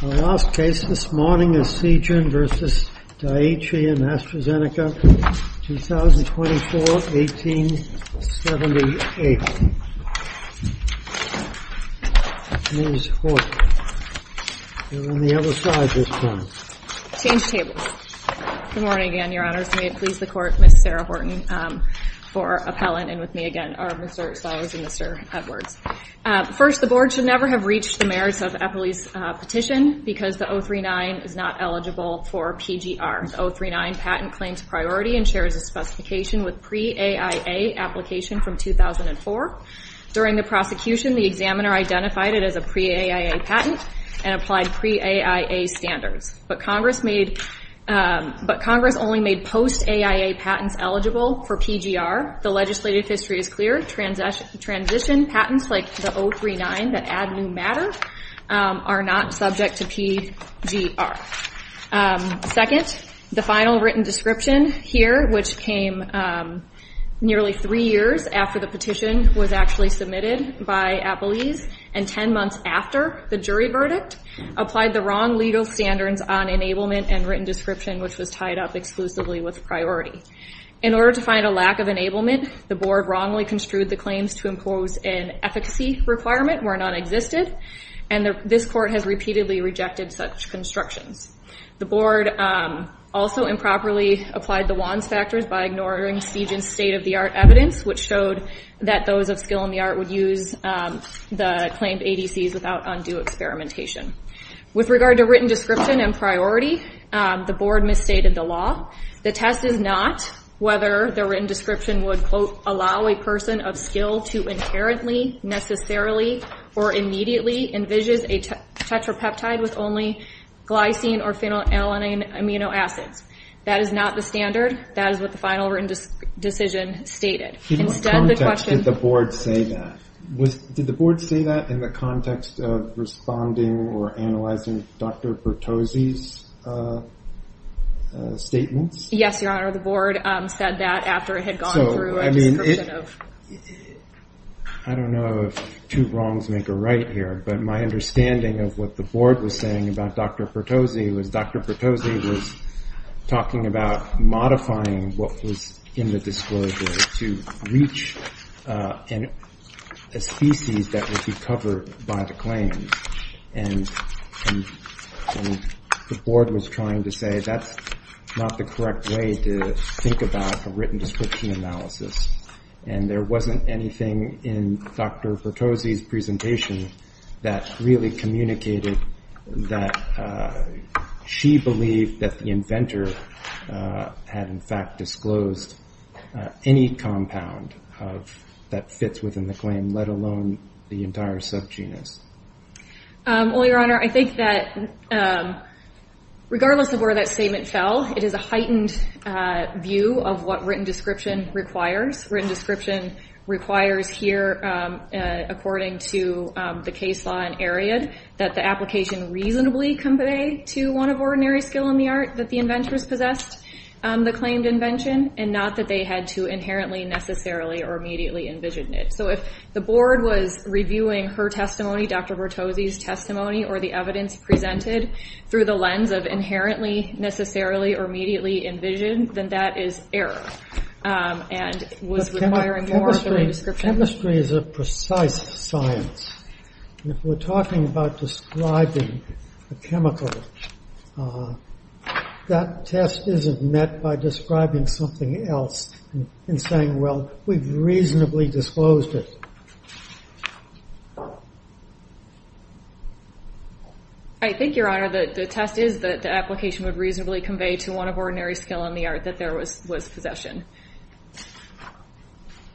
The last case this morning is Seagen v. Daiichi and AstraZeneca, 2024-1878. Ms. Horton. You're on the other side this time. Change tables. Good morning again, Your Honors. May it please the Court, Ms. Sarah Horton for appellant, and with me again are Mr. Stiles and Mr. Edwards. First, the Board should never have reached the merits of Eppley's petition because the 039 is not eligible for PGR. The 039 patent claims priority and shares a specification with pre-AIA application from 2004. During the prosecution, the examiner identified it as a pre-AIA patent and applied pre-AIA standards, but Congress only made post-AIA patents eligible for PGR. The legislative history is clear. Transition patents like the 039 that add new matter are not subject to PGR. Second, the final written description here, which came nearly three years after the petition was actually submitted by appellees and 10 months after the jury verdict, applied the wrong legal standards on enablement and written description, which was tied up exclusively with priority. In order to find a lack of enablement, the Board wrongly construed the claims to impose an efficacy requirement were nonexistent, and this Court has repeatedly rejected such constructions. The Board also improperly applied the Wands Factors by ignoring Seigent's state-of-the-art evidence, which showed that those of skill in the art would use the claimed ADCs without undue experimentation. With regard to written description and priority, the Board misstated the law. The test is not whether the written description would, quote, allow a person of skill to inherently, necessarily, or immediately envisage a tetrapeptide with only glycine or phenylalanine amino acids. That is not the standard. That is what the final written decision stated. In what context did the Board say that? Did the Board say that in the context of responding or analyzing Dr. Pertozzi's statements? Yes, Your Honor. The Board said that after it had gone through a description of— I don't know if two wrongs make a right here, but my understanding of what the Board was saying about Dr. Pertozzi was talking about modifying what was in the disclosure to reach a species that would be covered by the claims. And the Board was trying to say that's not the correct way to think about a written description analysis. And there wasn't anything in Dr. Pertozzi's presentation that really communicated that she believed that the inventor had, in fact, disclosed any compound that fits within the claim, let alone the entire subgenus. Well, Your Honor, I think that regardless of where that statement fell, it is a heightened view of what written description requires. Written description requires here, according to the case law in Ariad, that the application reasonably convey to one of ordinary skill in the art that the inventors possessed the claimed invention, and not that they had to inherently, necessarily, or immediately envision it. So if the Board was reviewing her testimony, Dr. Pertozzi's testimony, or the evidence presented through the lens of inherently, necessarily, or immediately envisioned, then that is error and was requiring more of a written description. Chemistry is a precise science. If we're talking about describing a chemical, that test isn't met by describing something else and saying, well, we've reasonably disclosed it. I think, Your Honor, that the test is that the application would reasonably convey to one of ordinary skill in the art that there was possession.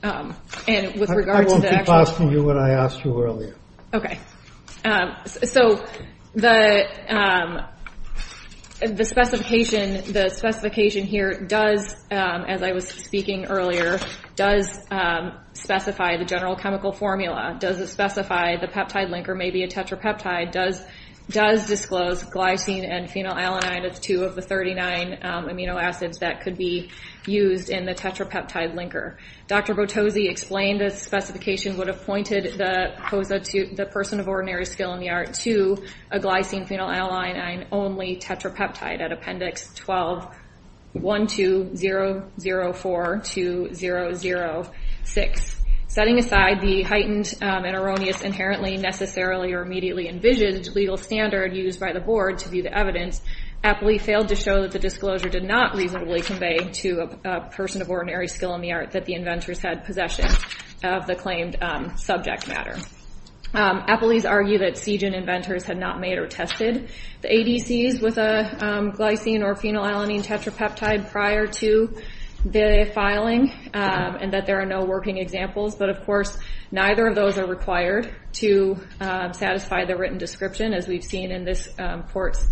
I won't keep asking you what I asked you earlier. Okay. So the specification here does, as I was speaking earlier, does specify the general chemical formula, does specify the peptide linker may be a tetrapeptide, does disclose glycine and phenylalanine as two of the 39 amino acids that could be used in the tetrapeptide linker. Dr. Pertozzi explained the specification would have pointed the person of ordinary skill in the art to a glycine phenylalanine-only tetrapeptide at Appendix 12-12004-2006. Setting aside the heightened and erroneous inherently, necessarily, or immediately envisioned legal standard used by the Board to view the evidence, Appley failed to show that the disclosure did not reasonably convey to a person of ordinary skill in the art that the inventors had possession of the claimed subject matter. Appley's argued that Siegen inventors had not made or tested the ADCs with a glycine or phenylalanine tetrapeptide prior to the filing and that there are no working examples. But of course, neither of those are required to satisfy the written description as we've seen in this court's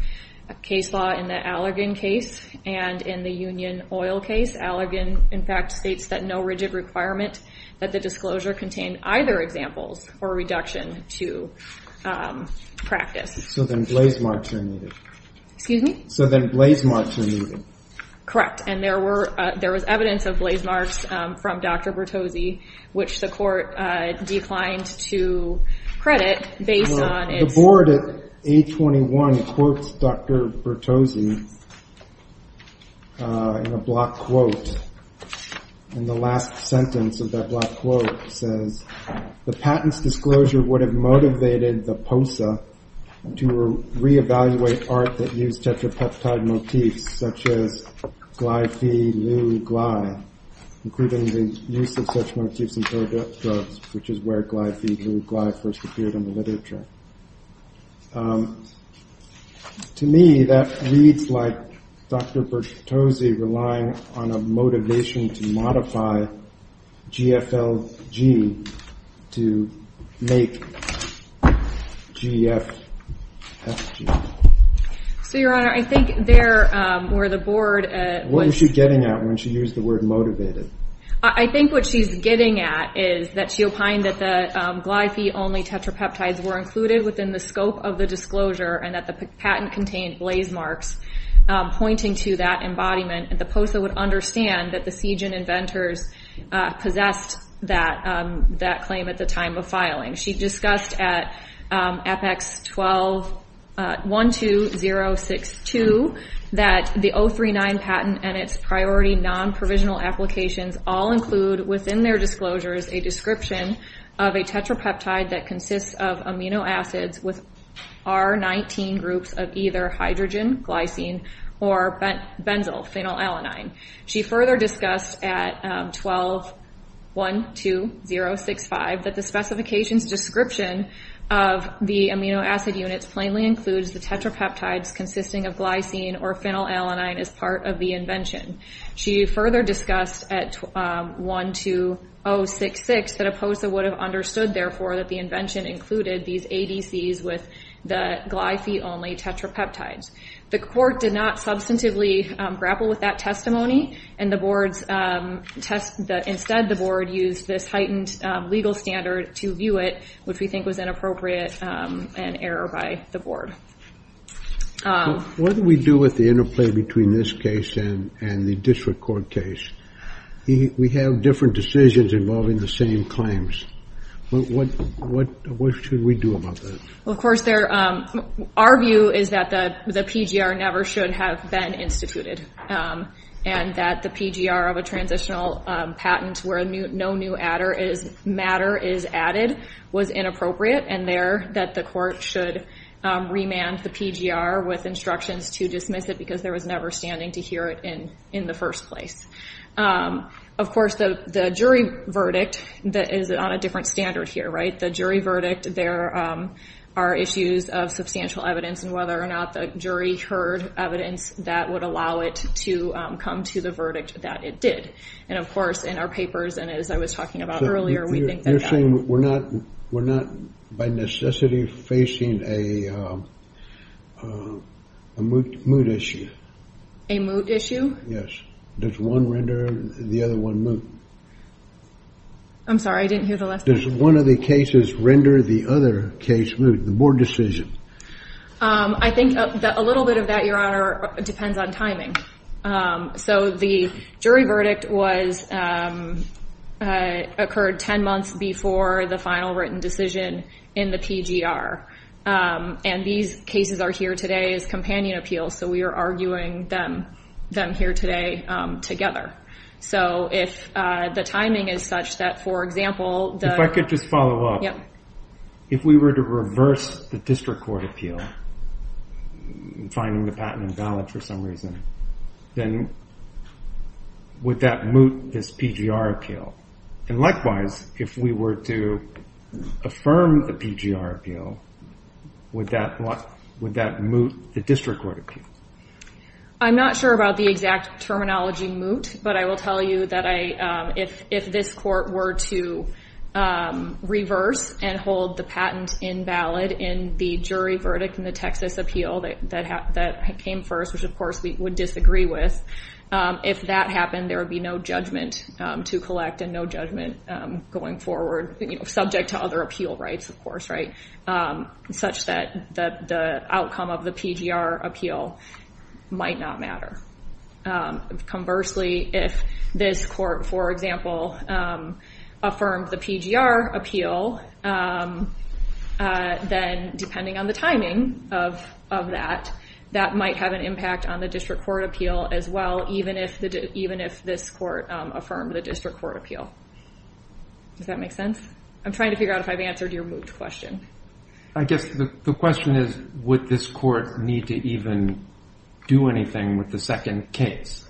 case law in the Allergan case and in the Union Oil case. Allergan, in fact, states that no rigid requirement that the disclosure contain either examples or reduction to practice. So then blazemarks are needed. Excuse me? So then blazemarks are needed. Correct. And there was evidence of blazemarks from Dr. Bertozzi, which the court declined to credit based on its- The Board at 821 quotes Dr. Bertozzi in a block quote. And the last sentence of that block quote says, the patent's disclosure would have motivated the POSA to reevaluate art that used tetrapeptide motifs such as glyphylugly, including the use of such motifs in products, which is where glyphylugly first appeared in the literature. To me, that reads like Dr. Bertozzi relying on a motivation to modify GFLG to make GFFG. So, Your Honor, I think there where the Board- What was she getting at when she used the word motivated? I think what she's getting at is that she opined that the glyphy-only tetrapeptides were included within the scope of the disclosure and that the patent contained blazemarks pointing to that embodiment. The POSA would understand that the Siege and Inventors possessed that claim at the time of filing. She discussed at Apex 12062 that the 039 patent and its priority non-provisional applications all include within their disclosures a description of a tetrapeptide that consists of amino acids with R-19 groups of either hydrogen, glycine, or benzophenylalanine. She further discussed at 12-12065 that the specifications description of the amino acid units plainly includes the tetrapeptides consisting of glycine or phenylalanine as part of the invention. She further discussed at 12066 that a POSA would have understood, therefore, that the invention included these ADCs with the glyphy-only tetrapeptides. The court did not substantively grapple with that testimony. Instead, the board used this heightened legal standard to view it, which we think was inappropriate and error by the board. What do we do with the interplay between this case and the district court case? We have different decisions involving the same claims. What should we do about that? Our view is that the PGR never should have been instituted, and that the PGR of a transitional patent where no new matter is added was inappropriate, and there that the court should remand the PGR with instructions to dismiss it because there was never standing to hear it in the first place. Of course, the jury verdict is on a different standard here. The jury verdict, there are issues of substantial evidence, and whether or not the jury heard evidence, that would allow it to come to the verdict that it did. Of course, in our papers and as I was talking about earlier, we think that... You're saying we're not by necessity facing a moot issue? A moot issue? Yes. Does one render the other one moot? I'm sorry, I didn't hear the last part. Does one of the cases render the other case moot, the board decision? I think a little bit of that, Your Honor, depends on timing. So the jury verdict occurred 10 months before the final written decision in the PGR, and these cases are here today as companion appeals, so we are arguing them here today together. So if the timing is such that, for example... If I could just follow up. If we were to reverse the district court appeal, finding the patent invalid for some reason, then would that moot this PGR appeal? And likewise, if we were to affirm the PGR appeal, would that moot the district court appeal? I'm not sure about the exact terminology moot, but I will tell you that if this court were to reverse and hold the patent invalid in the jury verdict in the Texas appeal that came first, which of course we would disagree with, if that happened, there would be no judgment to collect and no judgment going forward, subject to other appeal rights, of course, such that the outcome of the PGR appeal might not matter. Conversely, if this court, for example, affirmed the PGR appeal, then depending on the timing of that, that might have an impact on the district court appeal as well, even if this court affirmed the district court appeal. Does that make sense? I'm trying to figure out if I've answered your moot question. I guess the question is, would this court need to even do anything with the second case?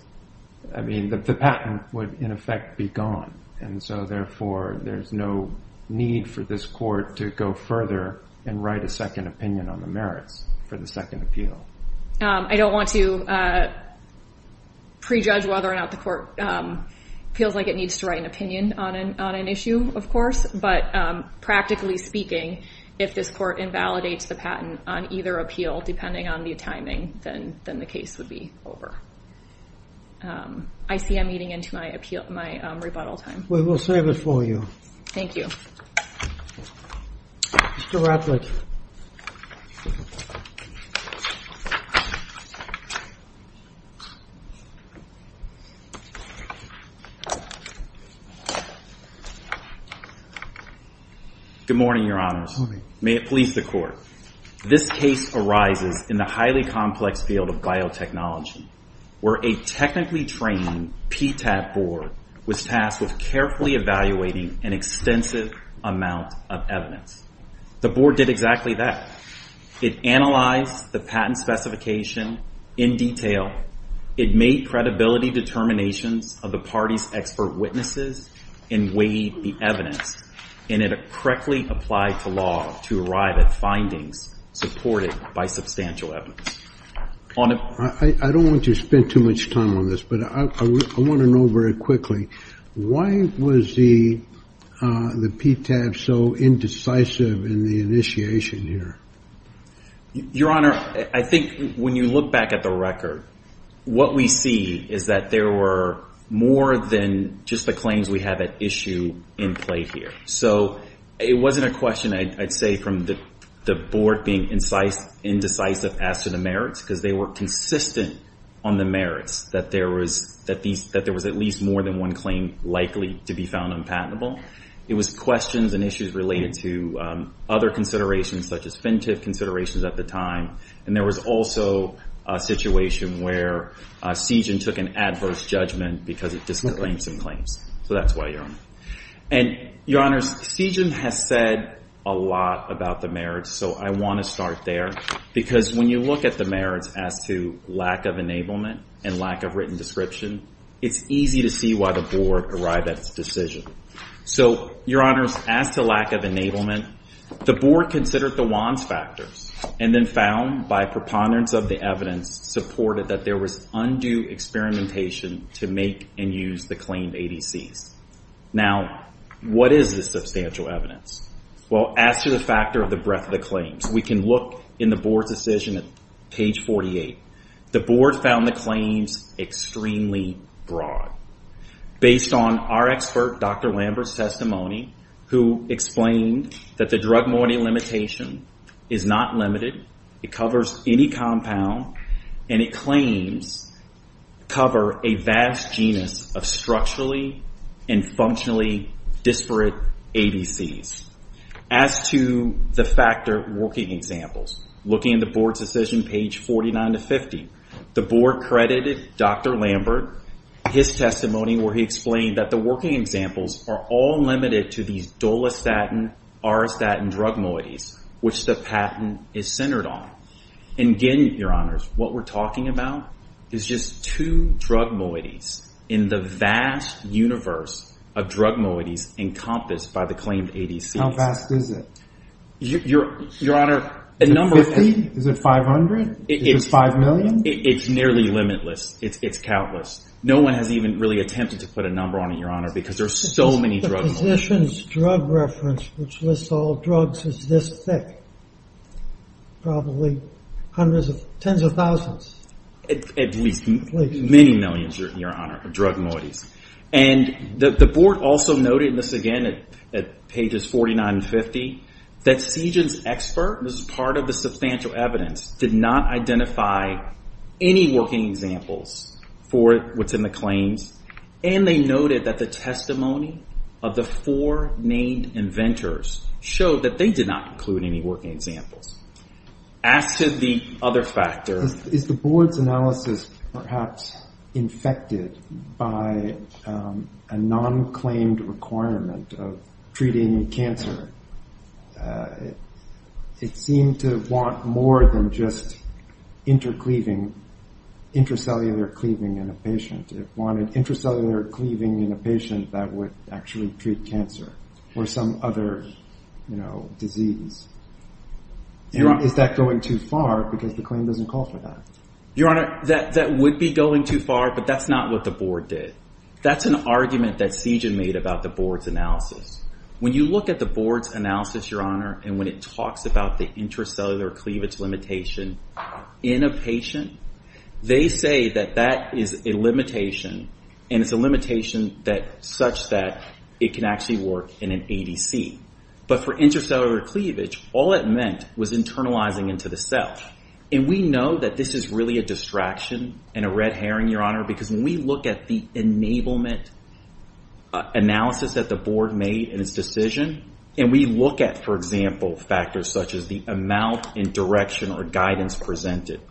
I mean, the patent would in effect be gone, and so therefore there's no need for this court to go further and write a second opinion on the merits for the second appeal. I don't want to prejudge whether or not the court feels like it needs to write an opinion on an issue, of course, but practically speaking, if this court invalidates the patent on either appeal, depending on the timing, then the case would be over. I see I'm eating into my rebuttal time. We will save it for you. Thank you. Mr. Ratliff. Good morning, Your Honors. Good morning. May it please the Court, this case arises in the highly complex field of biotechnology, where a technically trained PTAT board was tasked with carefully evaluating an extensive amount of evidence. The board did exactly that. It analyzed the patent specification in detail. It made credibility determinations of the party's expert witnesses and weighed the evidence, and it correctly applied to law to arrive at findings supported by substantial evidence. I don't want to spend too much time on this, but I want to know very quickly, why was the PTAT so indecisive in the initiation here? Your Honor, I think when you look back at the record, what we see is that there were more than just the claims we have at issue in play here. So it wasn't a question, I'd say, from the board being indecisive as to the merits, because they were consistent on the merits, that there was at least more than one claim likely to be found unpatentable. It was questions and issues related to other considerations, such as FinTIF considerations at the time, and there was also a situation where CJIN took an adverse judgment because it disclaimed some claims. So that's why, Your Honor. And, Your Honors, CJIN has said a lot about the merits, so I want to start there, because when you look at the merits as to lack of enablement and lack of written description, it's easy to see why the board arrived at its decision. So, Your Honors, as to lack of enablement, the board considered the WANs factors and then found, by preponderance of the evidence, supported that there was undue experimentation to make and use the claimed ADCs. Now, what is the substantial evidence? Well, as to the factor of the breadth of the claims, we can look in the board's decision at page 48. The board found the claims extremely broad. Based on our expert, Dr. Lambert's testimony, who explained that the drug mortality limitation is not limited, it covers any compound, and it claims cover a vast genus of structurally and functionally disparate ADCs. As to the factor of working examples, looking at the board's decision, page 49 to 50, the board credited Dr. Lambert, his testimony where he explained that the working examples are all limited to these dolestatin-R-statin drug moieties, which the patent is centered on. And again, Your Honors, what we're talking about is just two drug moieties in the vast universe of drug moieties encompassed by the claimed ADCs. How vast is it? Is it 50? Is it 500? Is it 5 million? It's nearly limitless. It's countless. No one has even really attempted to put a number on it, Your Honor, because there are so many drug moieties. The physician's drug reference, which lists all drugs, is this thick. Probably tens of thousands. At least many millions, Your Honor, of drug moieties. And the board also noted, and this, again, at pages 49 and 50, that Sijin's expert, this is part of the substantial evidence, did not identify any working examples for what's in the claims. And they noted that the testimony of the four named inventors showed that they did not include any working examples. As to the other factor... Is the board's analysis perhaps infected by a non-claimed requirement of treating cancer? It seemed to want more than just intercleaving, intracellular cleaving in a patient. It wanted intracellular cleaving in a patient that would actually treat cancer or some other disease. Is that going too far, because the claim doesn't call for that? Your Honor, that would be going too far, but that's not what the board did. That's an argument that Sijin made about the board's analysis. When you look at the board's analysis, Your Honor, and when it talks about the intracellular cleavage limitation in a patient, they say that that is a limitation, and it's a limitation such that it can actually work in an ADC. But for intracellular cleavage, all it meant was internalizing into the cell. And we know that this is really a distraction and a red herring, Your Honor, because when we look at the enablement analysis that the board made in its decision, and we look at, for example, factors such as the amount and direction or guidance presented,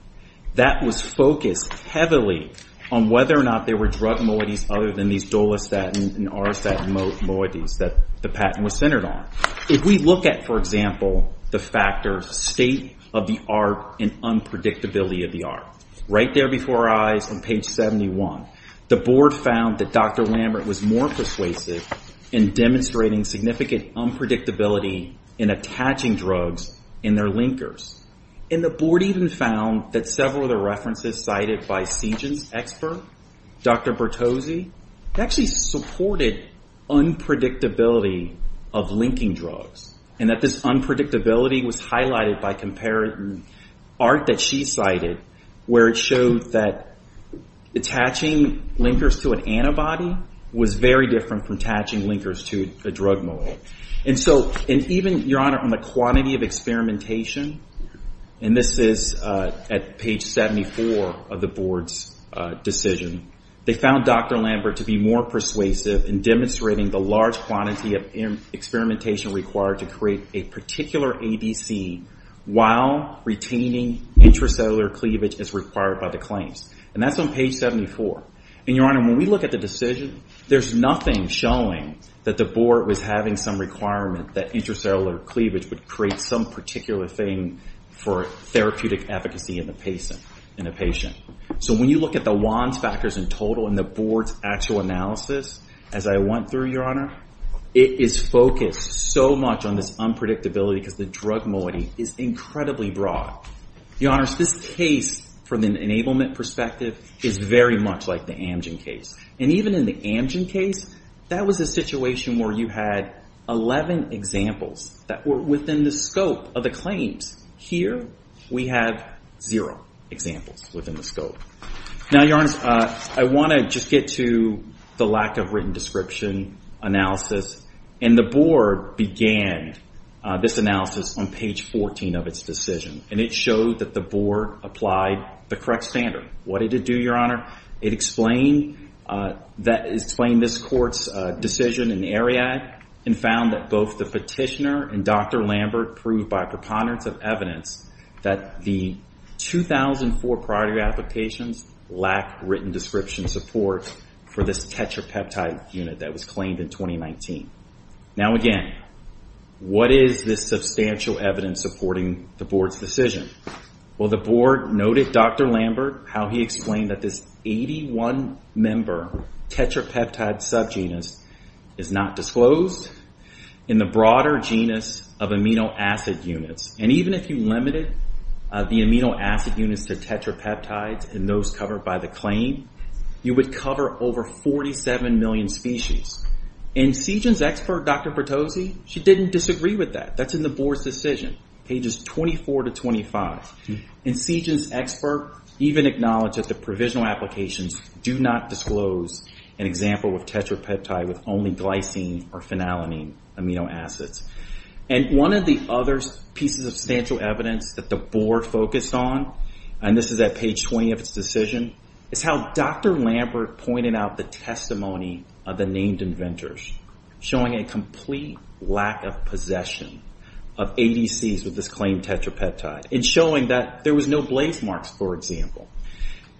that was focused heavily on whether or not there were drug moieties other than these dolestatin and r-statin moieties that the patent was centered on. If we look at, for example, the factors state of the art and unpredictability of the art, right there before our eyes on page 71, the board found that Dr. Lambert was more persuasive in demonstrating significant unpredictability in attaching drugs in their linkers. And the board even found that several of the references cited by Sijin's expert, Dr. Bertozzi, actually supported unpredictability of linking drugs, and that this unpredictability was highlighted by comparative art that she cited, where it showed that attaching linkers to an antibody was very different from attaching linkers to a drug moiety. And so even, Your Honor, on the quantity of experimentation, and this is at page 74 of the board's decision, they found Dr. Lambert to be more persuasive in demonstrating the large quantity of experimentation required to create a particular ADC while retaining intracellular cleavage as required by the claims. And that's on page 74. And, Your Honor, when we look at the decision, there's nothing showing that the board was having some requirement that intracellular cleavage would create some particular thing for therapeutic efficacy in a patient. So when you look at the WANS factors in total and the board's actual analysis, as I went through, Your Honor, it is focused so much on this unpredictability because the drug moiety is incredibly broad. Your Honors, this case, from an enablement perspective, is very much like the Amgen case. And even in the Amgen case, that was a situation where you had 11 examples that were within the scope of the claims. Here, we have zero examples within the scope. Now, Your Honors, I want to just get to the lack of written description analysis. And the board began this analysis on page 14 of its decision. And it showed that the board applied the correct standard. What did it do, Your Honor? It explained this court's decision in AREAC and found that both the petitioner and Dr. Lambert proved by preponderance of evidence that the 2004 priority applications lacked written description support for this tetrapeptide unit that was claimed in 2019. Now, again, what is this substantial evidence supporting the board's decision? Well, the board noted Dr. Lambert, how he explained that this 81-member tetrapeptide subgenus is not disclosed in the broader genus of amino acid units. And even if you limited the amino acid units to tetrapeptides and those covered by the claim, you would cover over 47 million species. And CSGEN's expert, Dr. Bertozzi, she didn't disagree with that. That's in the board's decision, pages 24 to 25. And CSGEN's expert even acknowledged that the provisional applications do not disclose an example of tetrapeptide with only glycine or phenylalanine amino acids. And one of the other pieces of substantial evidence that the board focused on, and this is at page 20 of its decision, is how Dr. Lambert pointed out the testimony of the named inventors, showing a complete lack of possession of ADCs with this claimed tetrapeptide and showing that there was no blaze marks, for example.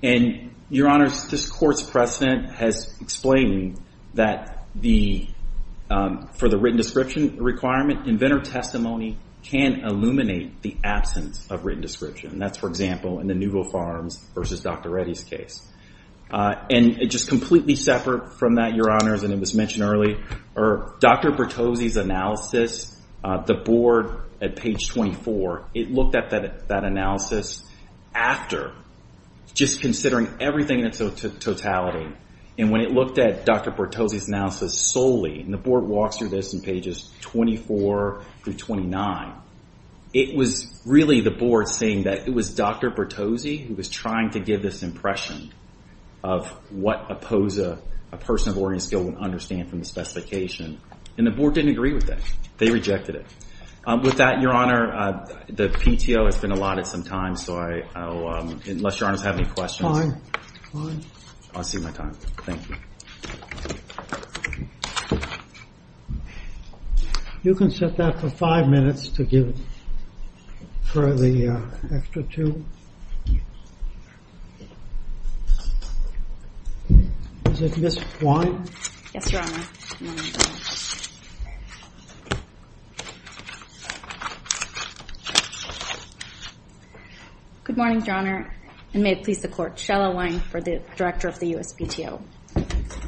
And, Your Honors, this court's precedent has explained that for the written description requirement, inventor testimony can illuminate the absence of written description. And that's, for example, in the Newville Farms versus Dr. Reddy's case. And just completely separate from that, Your Honors, and it was mentioned earlier, Dr. Bertozzi's analysis, the board at page 24, it looked at that analysis after just considering everything in its totality. And when it looked at Dr. Bertozzi's analysis solely, and the board walks through this in pages 24 through 29, it was really the board saying that it was Dr. Bertozzi who was trying to give this impression of what a person of Oregon skill would understand from the specification. And the board didn't agree with that. They rejected it. With that, Your Honor, the PTO has been allotted some time, so unless Your Honors have any questions. Fine. Fine. I'll see my time. Thank you. You can set that for five minutes to give for the extra two. Is it Ms. Wine? Yes, Your Honor. Good morning, Your Honor, and may it please the court, for the Director of the U.S. PTO.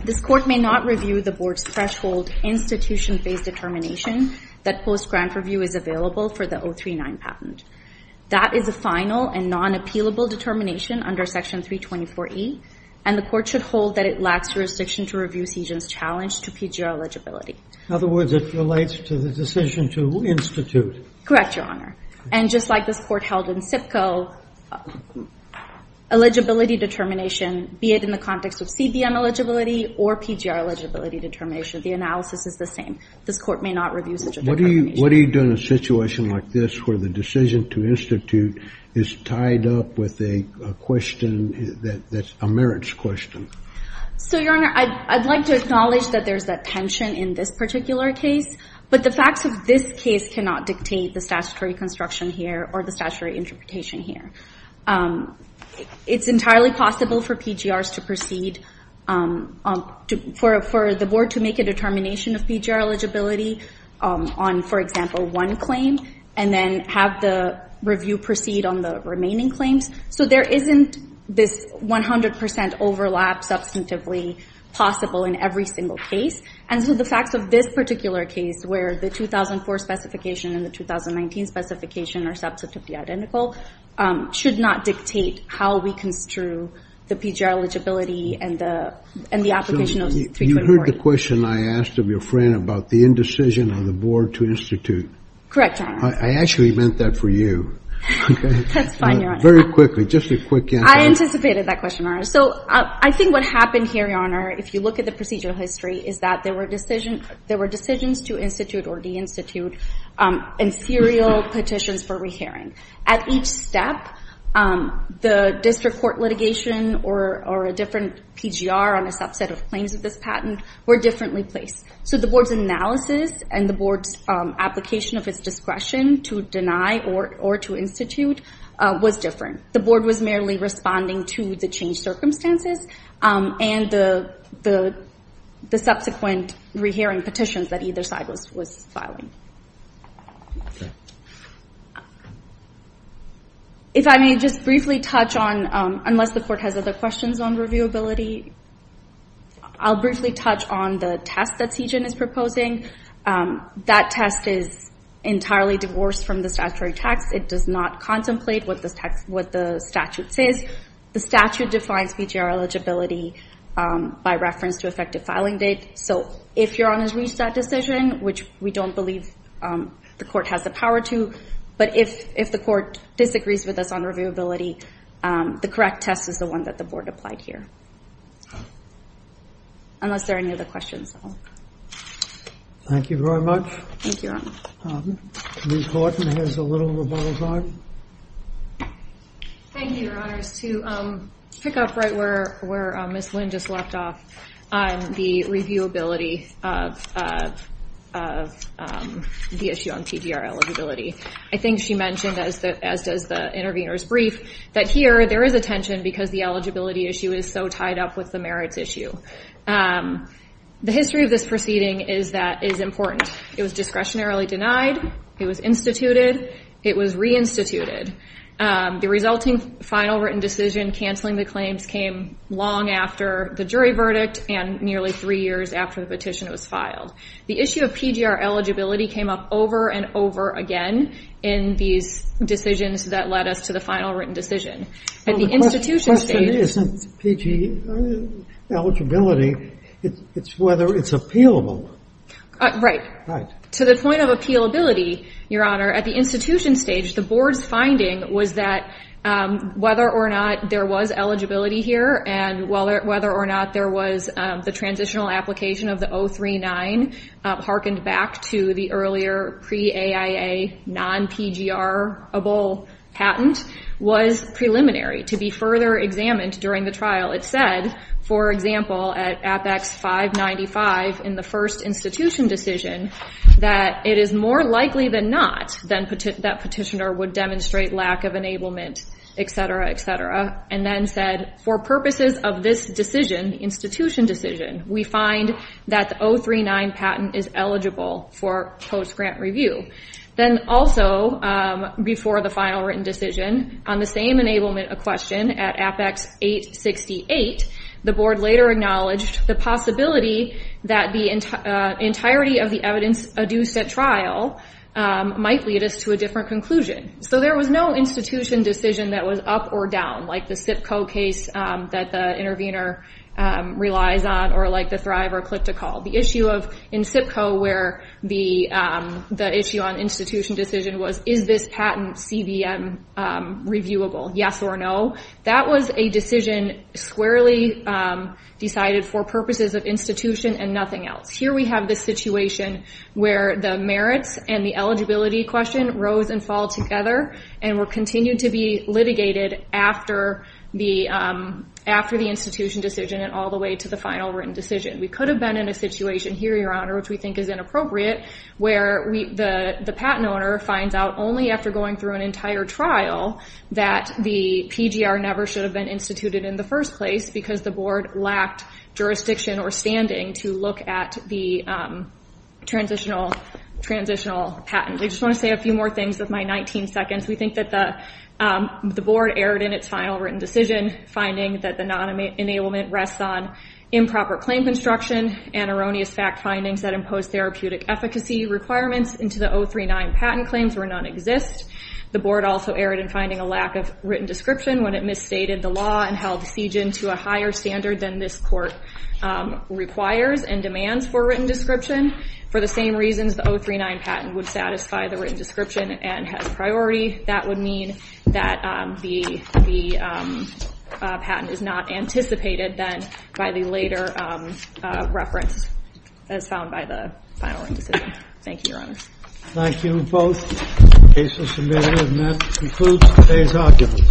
This court may not review the board's threshold institution-based determination that post-grant review is available for the 039 patent. That is a final and non-appealable determination under Section 324E, and the court should hold that it lacks jurisdiction to review CESION's challenge to PGR eligibility. In other words, it relates to the decision to institute. Correct, Your Honor. And just like this court held in SIPCO, eligibility determination, be it in the context of CBM eligibility or PGR eligibility determination, the analysis is the same. This court may not review such a determination. What do you do in a situation like this where the decision to institute is tied up with a question that's a merits question? So, Your Honor, I'd like to acknowledge that there's that tension in this particular case, but the facts of this case cannot dictate the statutory construction here or the statutory interpretation here. It's entirely possible for the board to make a determination of PGR eligibility on, for example, one claim, and then have the review proceed on the remaining claims. So there isn't this 100% overlap substantively possible in every single case. And so the facts of this particular case, where the 2004 specification and the 2019 specification are substantively identical, should not dictate how we construe the PGR eligibility and the application of 324. You heard the question I asked of your friend about the indecision of the board to institute. Correct, Your Honor. I actually meant that for you. That's fine, Your Honor. Very quickly, just a quick answer. I anticipated that question, Your Honor. So I think what happened here, Your Honor, if you look at the procedural history, is that there were decisions to institute or de-institute and serial petitions for rehearing. At each step, the district court litigation or a different PGR on a subset of claims of this patent were differently placed. So the board's analysis and the board's application of its discretion to deny or to institute was different. The board was merely responding to the changed circumstances and the subsequent rehearing petitions that either side was filing. If I may just briefly touch on, unless the court has other questions on reviewability, I'll briefly touch on the test that CJIN is proposing. That test is entirely divorced from the statutory text. It does not contemplate what the statute says. The statute defines PGR eligibility by reference to effective filing date. So if Your Honor's reached that decision, which we don't believe the court has the power to, but if the court disagrees with us on reviewability, the correct test is the one that the board applied here, unless there are any other questions. Thank you very much. Thank you, Your Honor. Ms. Horton has a little rebuttal time. Thank you, Your Honors. To pick up right where Ms. Lynn just left off on the reviewability of the issue on PGR eligibility, I think she mentioned, as does the intervener's brief, that here there is a tension because the eligibility issue is so tied up with the merits issue. The history of this proceeding is important. It was discretionarily denied. It was instituted. It was reinstituted. The resulting final written decision canceling the claims came long after the jury verdict and nearly three years after the petition was filed. The issue of PGR eligibility came up over and over again in these decisions that led us to the final written decision. The question isn't PGR eligibility, it's whether it's appealable. Right. To the point of appealability, Your Honor, at the institution stage, the board's finding was that whether or not there was eligibility here and whether or not there was the transitional application of the 039, hearkened back to the earlier pre-AIA non-PGRable patent, was preliminary to be further examined during the trial. It said, for example, at Apex 595 in the first institution decision, that it is more likely than not that petitioner would demonstrate lack of enablement, etc., etc., and then said, for purposes of this decision, institution decision, we find that the 039 patent is eligible for post-grant review. Then also, before the final written decision, on the same enablement question at Apex 868, the board later acknowledged the possibility that the entirety of the evidence adduced at trial might lead us to a different conclusion. So there was no institution decision that was up or down, like the CIPCO case that the intervener relies on or like the Thrive or Click to Call. The issue in CIPCO where the issue on institution decision was, is this patent CBM reviewable, yes or no? That was a decision squarely decided for purposes of institution and nothing else. Here we have the situation where the merits and the eligibility question rose and fall together and will continue to be litigated after the institution decision and all the way to the final written decision. We could have been in a situation here, Your Honor, which we think is inappropriate, where the patent owner finds out only after going through an entire trial that the PGR never should have been instituted in the first place because the board lacked jurisdiction or standing to look at the transitional patent. I just want to say a few more things with my 19 seconds. We think that the board erred in its final written decision, finding that the non-enablement rests on improper claim construction and erroneous fact findings that impose therapeutic efficacy requirements into the 039 patent claims where none exist. The board also erred in finding a lack of written description when it misstated the law and held the siege into a higher standard than this court requires and demands for written description. For the same reasons, the 039 patent would satisfy the written description and has priority. That would mean that the patent is not anticipated then by the later reference as found by the final written decision. Thank you, Your Honors. Thank you both. The case is submitted and that concludes today's argument.